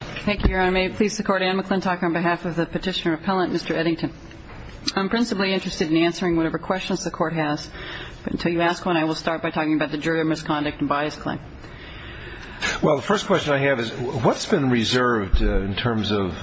on behalf of the Petitioner Appellant, Mr. Eddington. I'm principally interested in answering whatever questions the Court has, but until you ask one, I will start by talking about the jury of misconduct and bias claim. Well, the first question I have is, what's been reserved in terms of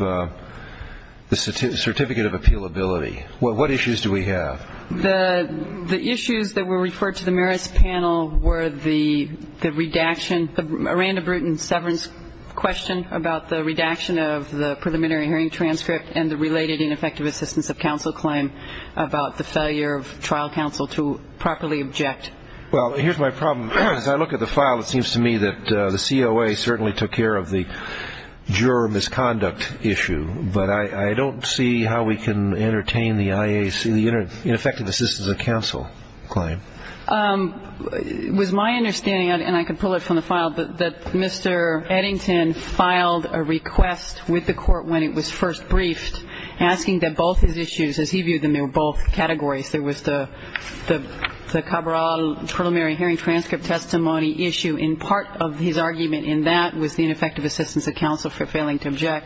the certificate of appealability? What issues do we have? The issues that were referred to the Marist panel were the redaction, the Miranda-Bruton severance question about the redaction of the preliminary hearing transcript and the related ineffective assistance of counsel claim about the failure of trial counsel to properly object. Well, here's my problem. As I look at the file, it seems to me that the COA certainly took care of the juror misconduct issue, but I don't see how we can entertain the IAC, the ineffective assistance of counsel claim. It was my understanding, and I can pull it from the file, that Mr. Eddington filed a request with the Court when it was first briefed asking that both his issues, as he viewed them, they were both categories. There was the Cabral preliminary hearing transcript testimony issue. And part of his argument in that was the ineffective assistance of counsel for failing to object,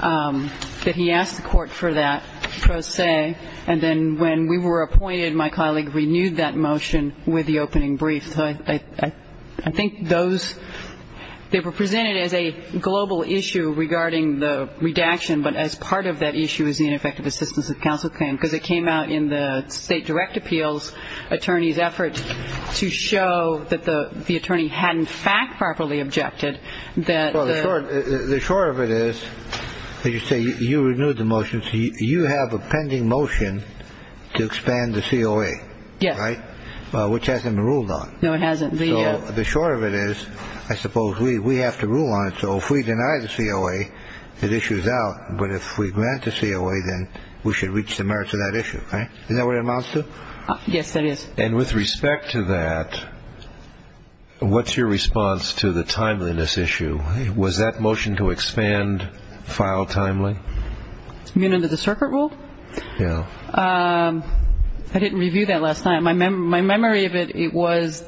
that he asked the Court for that pro se. And then when we were appointed, my colleague renewed that motion with the opening brief. I think those, they were presented as a global issue regarding the redaction, but as part of that issue is the ineffective assistance of counsel claim, because it came out in the state direct appeals attorney's effort to show that the attorney hadn't fact properly objected. The short of it is, as you say, you renewed the motion. You have a pending motion to expand the COA, which hasn't been ruled on. No, it hasn't. The short of it is, I suppose, we have to rule on it. So if we deny the COA, the issue is out. But if we grant the COA, then we should reach the merits of that issue. Is that what it amounts to? Yes, that is. And with respect to that, what's your response to the timeliness issue? Was that motion to expand filed timely? Mute under the circuit rule? Yeah. I didn't review that last time. My memory of it, it was,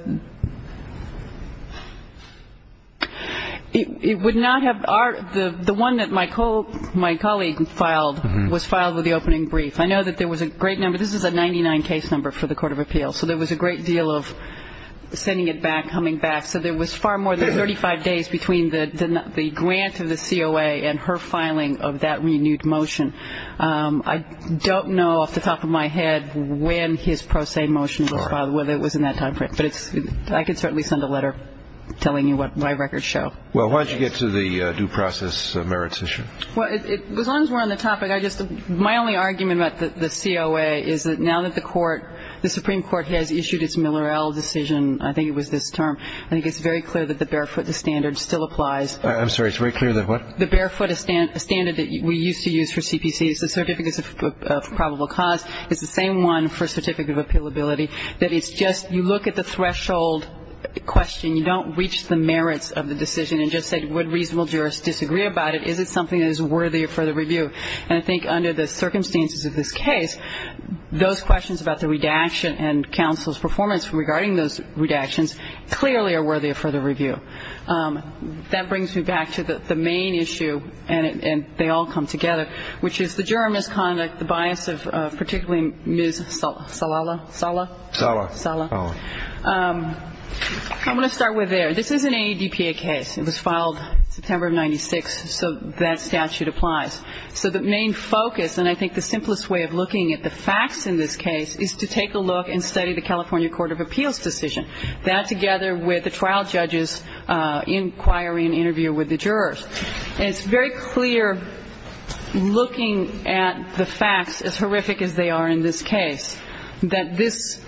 it would not have, the one that my colleague filed was filed with the opening brief. I know that there was a great number. This is a 99 case number for the court of appeals. So there was a great deal of sending it back, coming back. So there was far more than 35 days between the grant of the COA and her filing of that renewed motion. I don't know off the top of my head when his pro se motion was filed, whether it was in that time frame. But I can certainly send a letter telling you what my records show. Well, why don't you get to the due process merits issue? Well, as long as we're on the topic, I just, my only argument about the COA is that now that the court, the Supreme Court has issued its Miller-El decision, I think it was this term, I think it's very clear that the barefoot standard still applies. I'm sorry, it's very clear that what? The barefoot standard that we used to use for CPC is the certificates of probable cause. It's the same one for certificate of appealability. That it's just, you look at the threshold question. You don't reach the merits of the decision and just say would reasonable jurists disagree about it? Is it something that is worthy of further review? And I think under the circumstances of this case, those questions about the redaction and counsel's performance regarding those redactions clearly are worthy of further review. That brings me back to the main issue, and they all come together, which is the juror misconduct, the bias of particularly Ms. Salala, Sala? Sala. Sala. I'm going to start with there. This is an AEDPA case. It was filed September of 1996, so that statute applies. So the main focus, and I think the simplest way of looking at the facts in this case, is to take a look and study the California Court of Appeals decision, that together with the trial judge's inquiry and interview with the jurors. And it's very clear looking at the facts, as horrific as they are in this case, that this,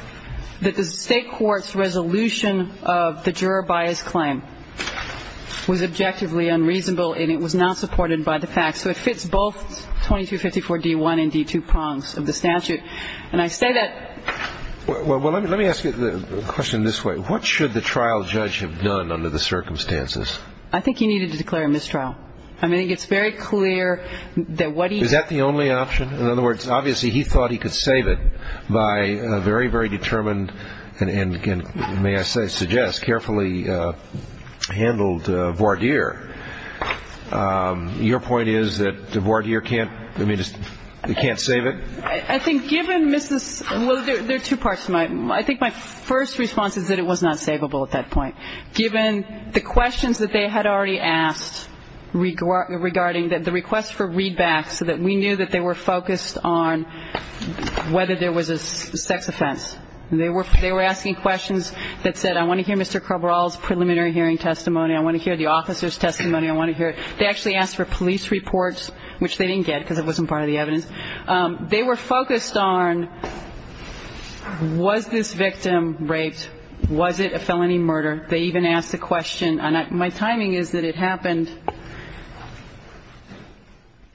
that the state court's resolution of the juror bias claim was objectively unreasonable and it was not supported by the facts. So it fits both 2254 D1 and D2 prongs of the statute. And I say that. Well, let me ask you the question this way. What should the trial judge have done under the circumstances? I think he needed to declare a mistrial. I mean, it's very clear that what he. Is that the only option? In other words, obviously he thought he could save it by a very, very determined and, again, may I suggest, carefully handled voir dire. Your point is that the voir dire can't save it? I think given Mrs. Well, there are two parts to my. I think my first response is that it was not savable at that point. Given the questions that they had already asked regarding the request for readback so that we knew that they were focused on whether there was a sex offense. They were asking questions that said, I want to hear Mr. Cabral's preliminary hearing testimony. I want to hear the officer's testimony. I want to hear it. They actually asked for police reports, which they didn't get because it wasn't part of the evidence. They were focused on was this victim raped? Was it a felony murder? They even asked a question. My timing is that it happened.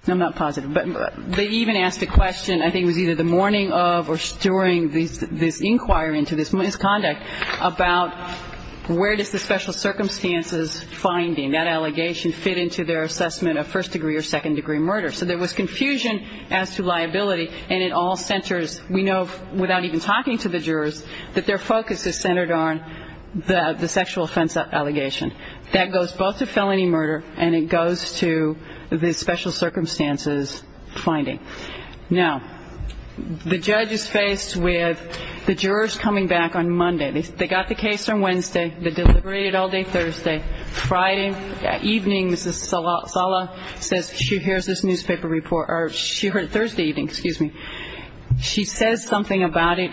I'm not positive. But they even asked a question, I think it was either the morning of or during this inquiry into this misconduct, about where does the special circumstances finding, that allegation, fit into their assessment of first degree or second degree murder. So there was confusion as to liability, and it all centers, we know, without even talking to the jurors, that their focus is centered on the sexual offense allegation. That goes both to felony murder and it goes to the special circumstances finding. Now, the judge is faced with the jurors coming back on Monday. They got the case on Wednesday. They deliberated all day Thursday. Friday evening, Mrs. Sala says she hears this newspaper report, or she heard it Thursday evening, excuse me. She says something about it,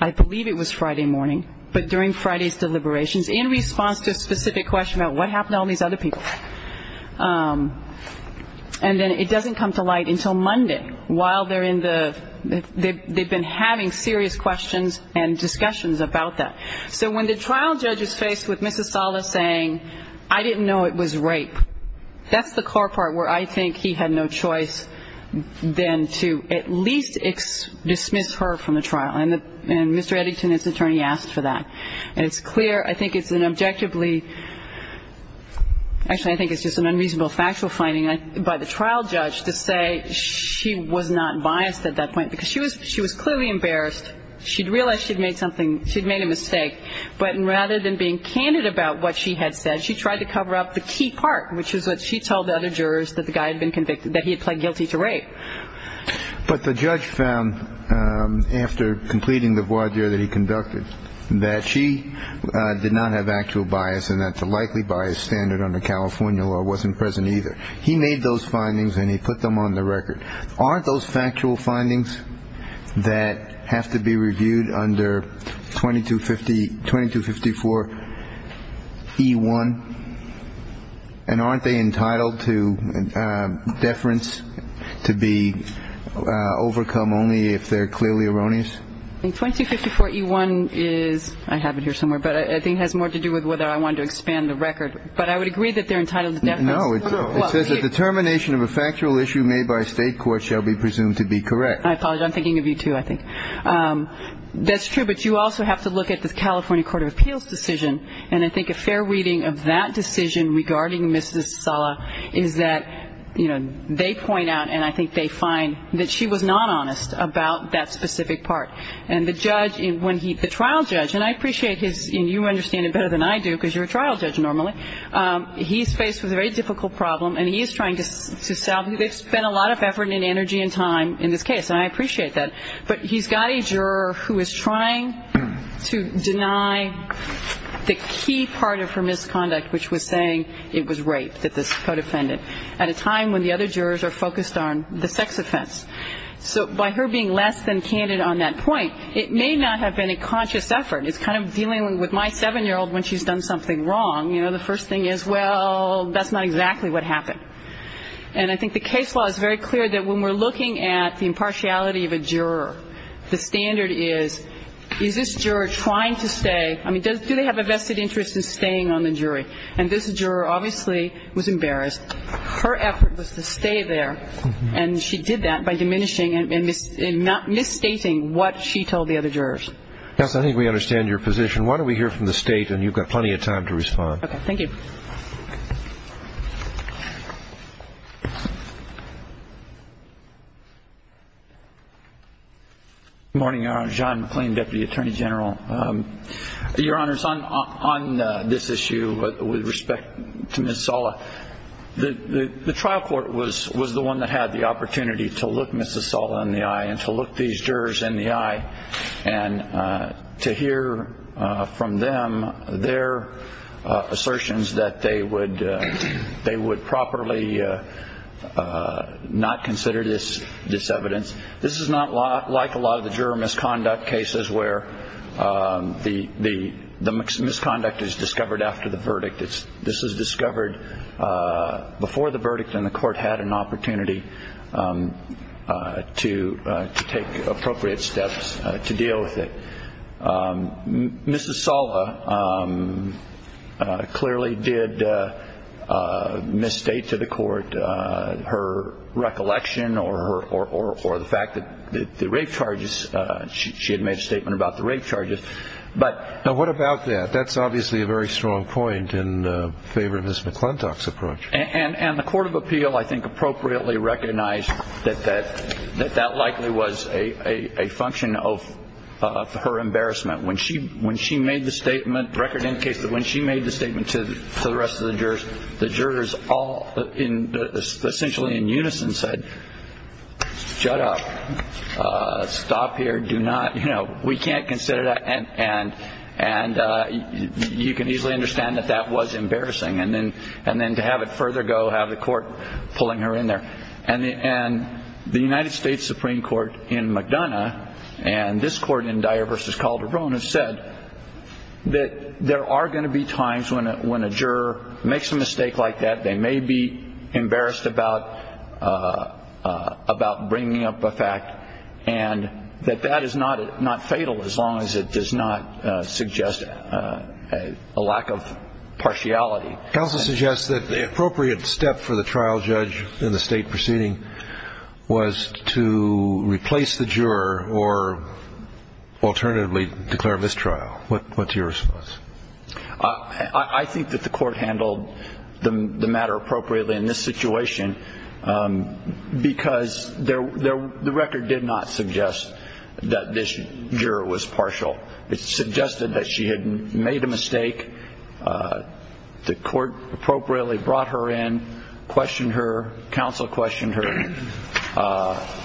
I believe it was Friday morning, but during Friday's deliberations, in response to a specific question about what happened to all these other people. And then it doesn't come to light until Monday while they're in the, they've been having serious questions and discussions about that. So when the trial judge is faced with Mrs. Sala saying, I didn't know it was rape, that's the core part where I think he had no choice then to at least dismiss her from the trial. And Mr. Eddington, his attorney, asked for that. And it's clear, I think it's an objectively, actually I think it's just an unreasonable factual finding by the trial judge to say she was not biased at that point because she was clearly embarrassed. She'd realized she'd made something, she'd made a mistake. But rather than being candid about what she had said, she tried to cover up the key part, which is what she told the other jurors that the guy had been convicted, that he had pled guilty to rape. But the judge found, after completing the voir dire that he conducted, that she did not have actual bias and that the likely bias standard under California law wasn't present either. He made those findings and he put them on the record. Aren't those factual findings that have to be reviewed under 2250, 2254 E1? And aren't they entitled to deference to be overcome only if they're clearly erroneous? 2254 E1 is, I have it here somewhere, but I think it has more to do with whether I wanted to expand the record. But I would agree that they're entitled to deference. No, it says that the termination of a factual issue made by a state court shall be presumed to be correct. I apologize, I'm thinking of you too, I think. That's true, but you also have to look at the California Court of Appeals decision. And I think a fair reading of that decision regarding Mrs. Sala is that, you know, they point out and I think they find that she was not honest about that specific part. And the judge, when he, the trial judge, and I appreciate his, and you understand it better than I do because you're a trial judge normally, he's faced with a very difficult problem and he is trying to solve it. They've spent a lot of effort and energy and time in this case, and I appreciate that. But he's got a juror who is trying to deny the key part of her misconduct, which was saying it was rape that this co-defendant, at a time when the other jurors are focused on the sex offense. So by her being less than candid on that point, it may not have been a conscious effort. It's kind of dealing with my 7-year-old when she's done something wrong. You know, the first thing is, well, that's not exactly what happened. And I think the case law is very clear that when we're looking at the impartiality of a juror, the standard is, is this juror trying to stay? I mean, do they have a vested interest in staying on the jury? And this juror obviously was embarrassed. Her effort was to stay there, and she did that by diminishing and misstating what she told the other jurors. Yes, I think we understand your position. Why don't we hear from the State, and you've got plenty of time to respond. Okay, thank you. Good morning, Your Honor. John McLean, Deputy Attorney General. Your Honor, on this issue with respect to Ms. Sala, the trial court was the one that had the opportunity to look Ms. Sala in the eye and to look these jurors in the eye and to hear from them their assertions that they would properly not consider this evidence. This is not like a lot of the juror misconduct cases where the misconduct is discovered after the verdict. This is discovered before the verdict, and the court had an opportunity to take appropriate steps to deal with it. Ms. Sala clearly did misstate to the court her recollection or the fact that the rape charges, she had made a statement about the rape charges. Now, what about that? That's obviously a very strong point in favor of Ms. McClintock's approach. And the court of appeal, I think, appropriately recognized that that likely was a function of her embarrassment. When she made the statement, the record indicates that when she made the statement to the rest of the jurors, the jurors essentially in unison said, shut up, stop here, do not, you know, we can't consider that. And you can easily understand that that was embarrassing. And then to have it further go, have the court pulling her in there. And the United States Supreme Court in McDonough, and this court in Dyer v. Calderon, have said that there are going to be times when a juror makes a mistake like that, they may be embarrassed about bringing up a fact, and that that is not fatal as long as it does not suggest a lack of partiality. Counsel suggests that the appropriate step for the trial judge in the state proceeding was to replace the juror or alternatively declare mistrial. What's your response? I think that the court handled the matter appropriately in this situation because the record did not suggest that this juror was partial. It suggested that she had made a mistake. The court appropriately brought her in, questioned her, counsel questioned her.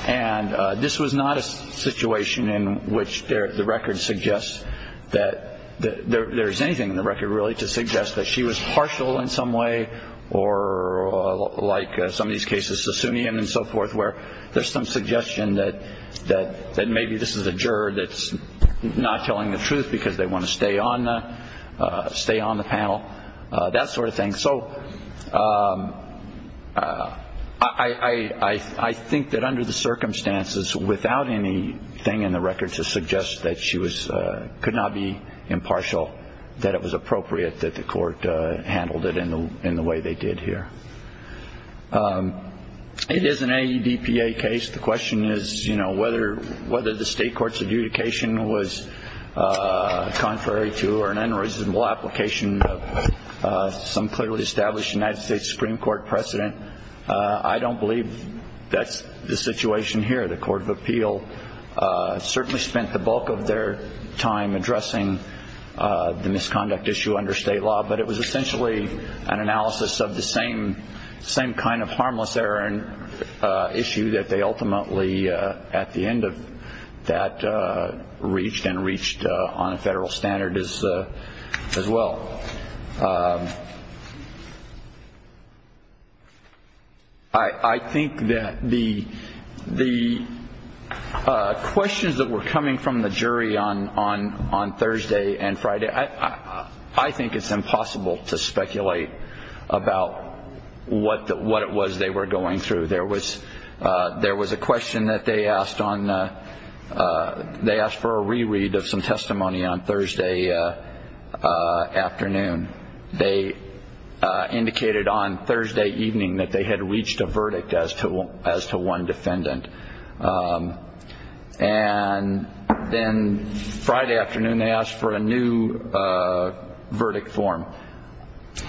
And this was not a situation in which the record suggests that there is anything in the record really to suggest that she was partial in some way or like some of these cases, Sassoonian and so forth, where there's some suggestion that maybe this is a juror that's not telling the truth because they want to stay on the panel, that sort of thing. So I think that under the circumstances, without anything in the record to suggest that she could not be impartial, that it was appropriate that the court handled it in the way they did here. It is an AEDPA case. The question is whether the state court's adjudication was contrary to or an unreasonable application of some clearly established United States Supreme Court precedent. I don't believe that's the situation here. The Court of Appeal certainly spent the bulk of their time addressing the misconduct issue under state law, but it was essentially an analysis of the same kind of harmless error issue that they ultimately, at the end of that, reached and reached on a federal standard as well. I think that the questions that were coming from the jury on Thursday and Friday, I think it's impossible to speculate about what it was they were going through. There was a question that they asked for a reread of some testimony on Thursday afternoon. They indicated on Thursday evening that they had reached a verdict as to one defendant. And then Friday afternoon, they asked for a new verdict form.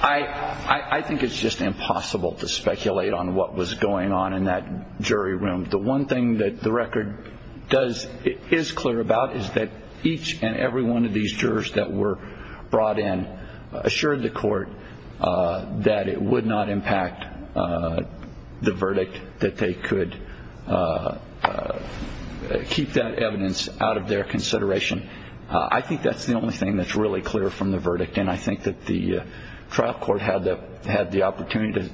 I think it's just impossible to speculate on what was going on in that jury room. The one thing that the record is clear about is that each and every one of these jurors that were brought in assured the court that it would not impact the verdict, that they could keep that evidence out of their consideration. I think that's the only thing that's really clear from the verdict, and I think that the trial court had the opportunity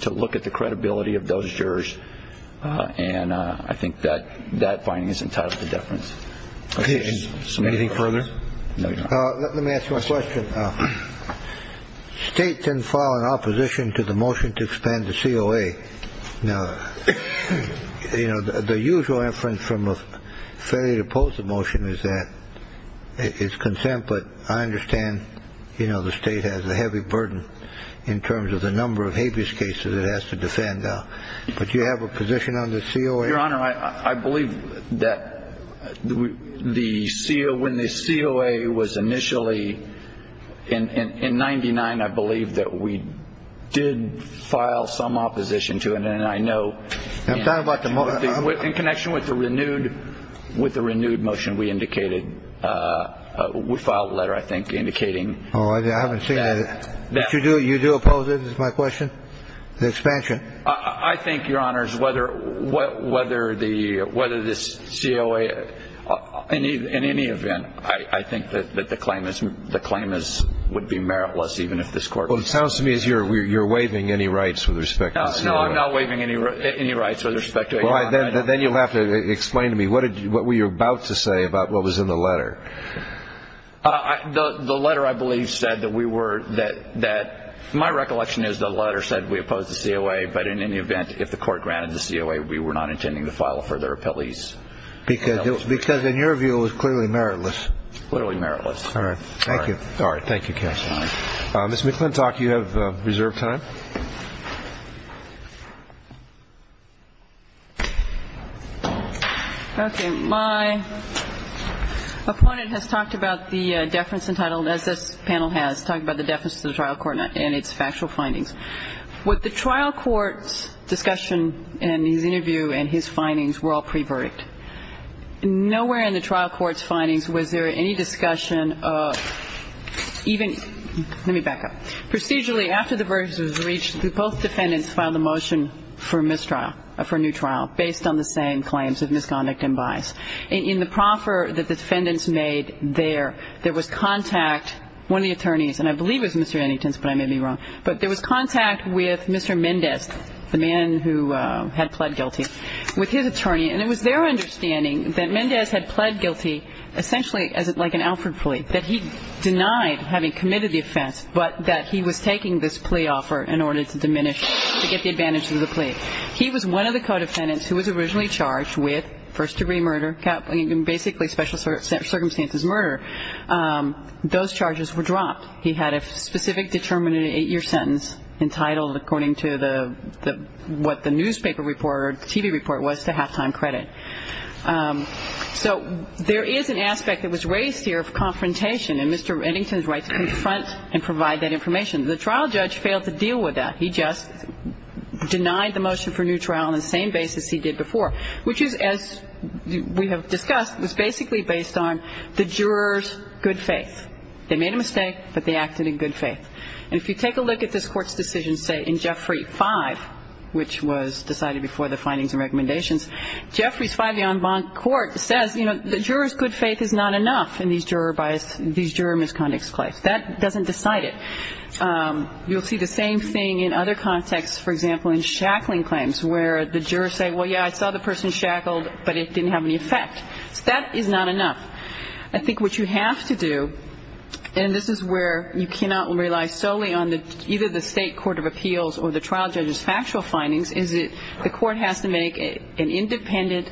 to look at the credibility of those jurors. And I think that that finding is entitled to deference. Anything further? Let me ask you a question. State can fall in opposition to the motion to expand the COA. You know, the usual inference from a failure to oppose the motion is that it's consent. But I understand, you know, the state has a heavy burden in terms of the number of habeas cases it has to defend. But you have a position on the COA? Your Honor, I believe that the COA, when the COA was initially in 99, I believe that we did file some opposition to it. And I know in connection with the renewed motion we indicated, we filed a letter, I think, indicating that. I haven't seen it. But you do oppose it, is my question, the expansion? I think, Your Honors, whether this COA, in any event, I think that the claim would be meritless, even if this court would support it. Well, it sounds to me as if you're waiving any rights with respect to the COA. No, I'm not waiving any rights with respect to it, Your Honor. Well, then you'll have to explain to me what were you about to say about what was in the letter. The letter, I believe, said that we were, that, my recollection is the letter said we opposed the COA, but in any event, if the court granted the COA, we were not intending to file further appellees. Because in your view, it was clearly meritless. Clearly meritless. All right. Thank you. All right. Thank you, counsel. Ms. McClintock, you have reserved time. Okay. My opponent has talked about the deference entitled, as this panel has, talked about the deference to the trial court and its factual findings. What the trial court's discussion in his interview and his findings were all pre-verdict. Nowhere in the trial court's findings was there any discussion of even, let me back up. Procedurally, after the verdict was reached, both defendants filed a motion for mistrial, for a new trial, based on the same claims of misconduct and bias. In the proffer that the defendants made there, there was contact, one of the attorneys, and I believe it was Mr. Annington's, but I may be wrong. But there was contact with Mr. Mendez, the man who had pled guilty, with his attorney. And it was their understanding that Mendez had pled guilty essentially like an Alford plea, that he denied having committed the offense, but that he was taking this plea offer in order to diminish, to get the advantage of the plea. He was one of the co-defendants who was originally charged with first-degree murder, basically special circumstances murder. Those charges were dropped. He had a specific determined eight-year sentence entitled, according to what the newspaper report or TV report was, to half-time credit. So there is an aspect that was raised here of confrontation and Mr. Annington's right to confront and provide that information. The trial judge failed to deal with that. He just denied the motion for new trial on the same basis he did before, which is, as we have discussed, was basically based on the juror's good faith. They made a mistake, but they acted in good faith. And if you take a look at this Court's decision, say, in Jeffrey 5, which was decided before the findings and recommendations, Jeffrey's 5, the en banc court, says, you know, the juror's good faith is not enough in these juror misconduct claims. That doesn't decide it. You'll see the same thing in other contexts, for example, in shackling claims, where the jurors say, well, yeah, I saw the person shackled, but it didn't have any effect. That is not enough. I think what you have to do, and this is where you cannot rely solely on either the state court of appeals or the trial judge's factual findings, is the court has to make an independent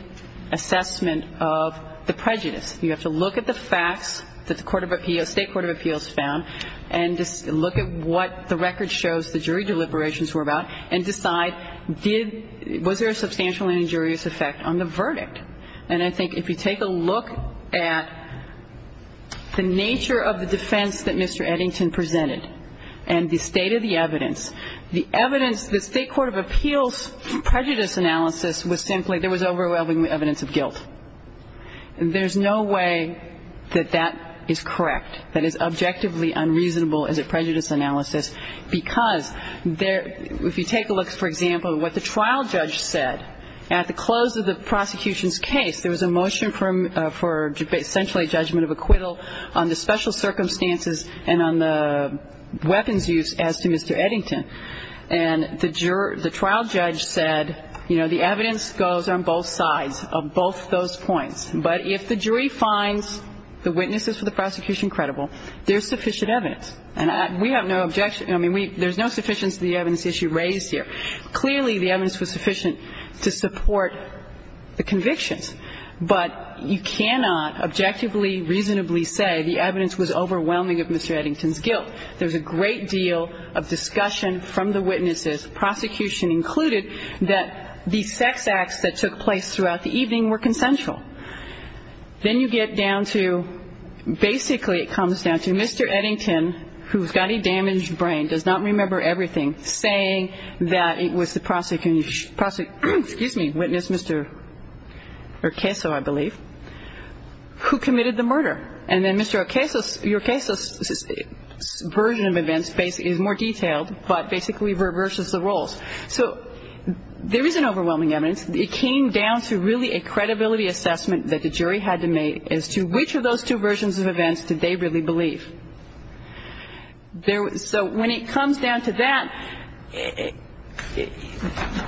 assessment of the prejudice. You have to look at the facts that the state court of appeals found and look at what the record shows the jury deliberations were about And I think if you take a look at the nature of the defense that Mr. Eddington presented and the state of the evidence, the evidence, the state court of appeals prejudice analysis was simply, there was overwhelming evidence of guilt. There's no way that that is correct, that is objectively unreasonable as a prejudice analysis, because if you take a look, for example, what the trial judge said at the close of the prosecution's case, there was a motion for essentially a judgment of acquittal on the special circumstances and on the weapons used as to Mr. Eddington. And the trial judge said, you know, the evidence goes on both sides of both those points. But if the jury finds the witnesses for the prosecution credible, there's sufficient evidence. And we have no objection. I mean, there's no sufficiency of the evidence issue raised here. Clearly, the evidence was sufficient to support the convictions. But you cannot objectively, reasonably say the evidence was overwhelming of Mr. Eddington's guilt. There's a great deal of discussion from the witnesses, prosecution included, that the sex acts that took place throughout the evening were consensual. Then you get down to, basically it comes down to Mr. Eddington, who's got a damaged brain, does not remember everything, saying that it was the prosecutor, excuse me, witness, Mr. Urqueso, I believe, who committed the murder. And then Mr. Urqueso's version of events is more detailed, but basically reverses the roles. So there is an overwhelming evidence. It came down to really a credibility assessment that the jury had to make as to which of those two versions of events did they really believe. So when it comes down to that,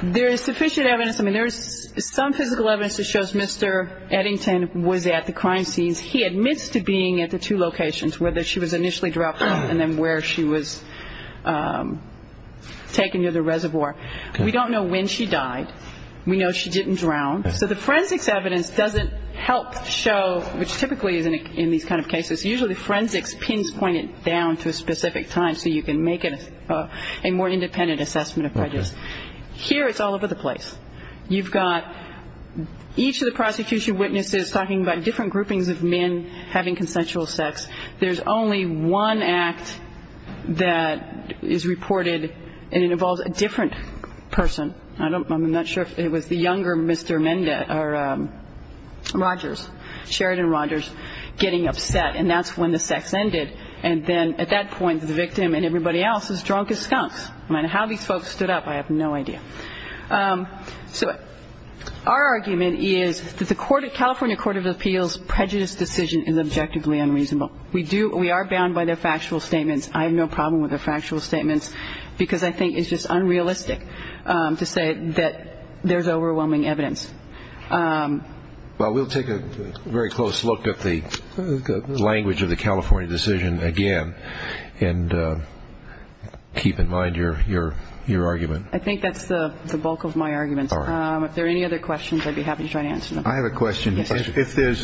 there is sufficient evidence. I mean, there is some physical evidence that shows Mr. Eddington was at the crime scenes. He admits to being at the two locations, whether she was initially dropped off and then where she was taken near the reservoir. We don't know when she died. We know she didn't drown. So the forensics evidence doesn't help show, which typically is in these kind of cases, usually forensics pins point it down to a specific time so you can make it a more independent assessment of prejudice. Here it's all over the place. You've got each of the prosecution witnesses talking about different groupings of men having consensual sex. There's only one act that is reported, and it involves a different person. I'm not sure if it was the younger Mr. Mendez or Rogers, Sheridan Rogers, getting upset. And that's when the sex ended. And then at that point, the victim and everybody else is drunk as skunks. I mean, how these folks stood up, I have no idea. So our argument is that the California Court of Appeals prejudice decision is objectively unreasonable. We are bound by their factual statements. I have no problem with their factual statements, because I think it's just unrealistic to say that there's overwhelming evidence. Well, we'll take a very close look at the language of the California decision again and keep in mind your argument. I think that's the bulk of my argument. If there are any other questions, I'd be happy to try to answer them. I have a question. If there's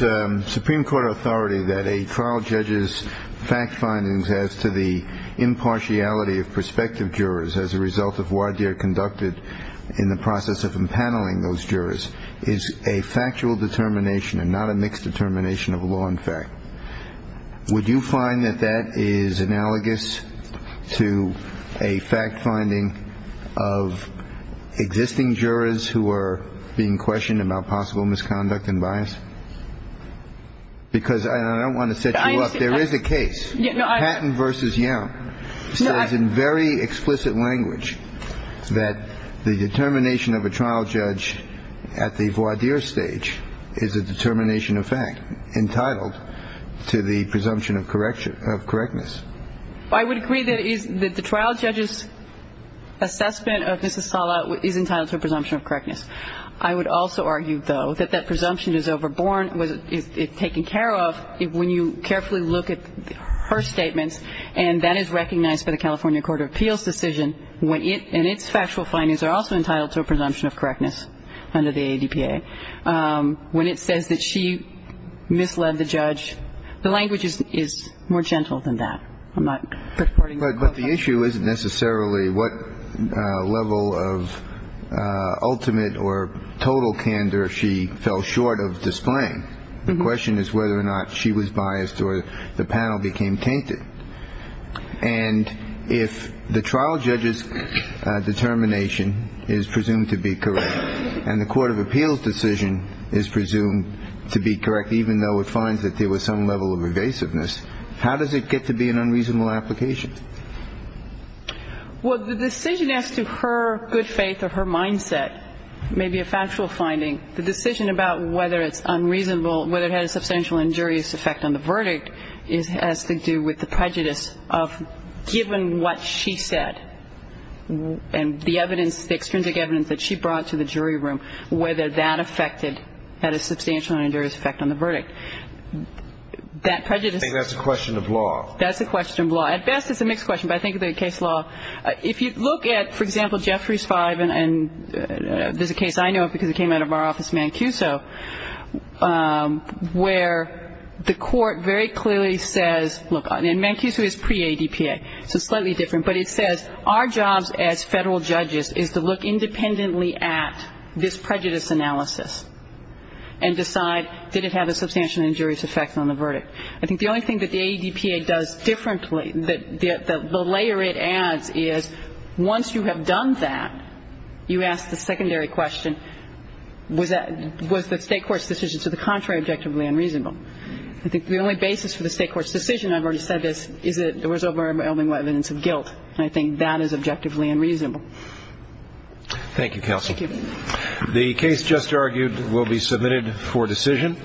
Supreme Court authority that a trial judge's fact findings as to the impartiality of prospective jurors as a result of voir dire conducted in the process of impaneling those jurors is a factual determination and not a mixed determination of law and fact, would you find that that is analogous to a fact finding of existing jurors who are being questioned about possible misconduct and bias? Because I don't want to set you up. There is a case. Patton v. Young says in very explicit language that the determination of a trial judge at the voir dire stage is a determination of fact entitled to the presumption of correctness. I would agree that the trial judge's assessment of Mrs. Sala is entitled to a presumption of correctness. I would also argue, though, that that presumption is overborn, is taken care of when you carefully look at her statements, and that is recognized by the California Court of Appeals decision when it and its factual findings are also entitled to a presumption of correctness under the ADPA. When it says that she misled the judge, the language is more gentle than that. I'm not supporting that. But the issue isn't necessarily what level of ultimate or total candor she fell short of displaying. The question is whether or not she was biased or the panel became tainted. And if the trial judge's determination is presumed to be correct and the Court of Appeals decision is presumed to be correct, even though it finds that there was some level of evasiveness, how does it get to be an unreasonable application? Well, the decision as to her good faith or her mindset may be a factual finding. The decision about whether it's unreasonable, whether it had a substantial injurious effect on the verdict, has to do with the prejudice of given what she said and the evidence, the extrinsic evidence that she brought to the jury room, I think that's a question of law. That's a question of law. At best, it's a mixed question, but I think of the case law. If you look at, for example, Jeffries 5, and there's a case I know of because it came out of our office, Mancuso, where the court very clearly says, look, and Mancuso is pre-ADPA, so slightly different, but it says our jobs as federal judges is to look independently at this prejudice analysis and decide did it have a substantial injurious effect on the verdict. I think the only thing that the ADPA does differently, the layer it adds, is once you have done that, you ask the secondary question, was the state court's decision to the contrary objectively unreasonable? I think the only basis for the state court's decision, I've already said this, is that there was overwhelming evidence of guilt, and I think that is objectively unreasonable. Thank you, counsel. Thank you. The case just argued will be submitted for decision.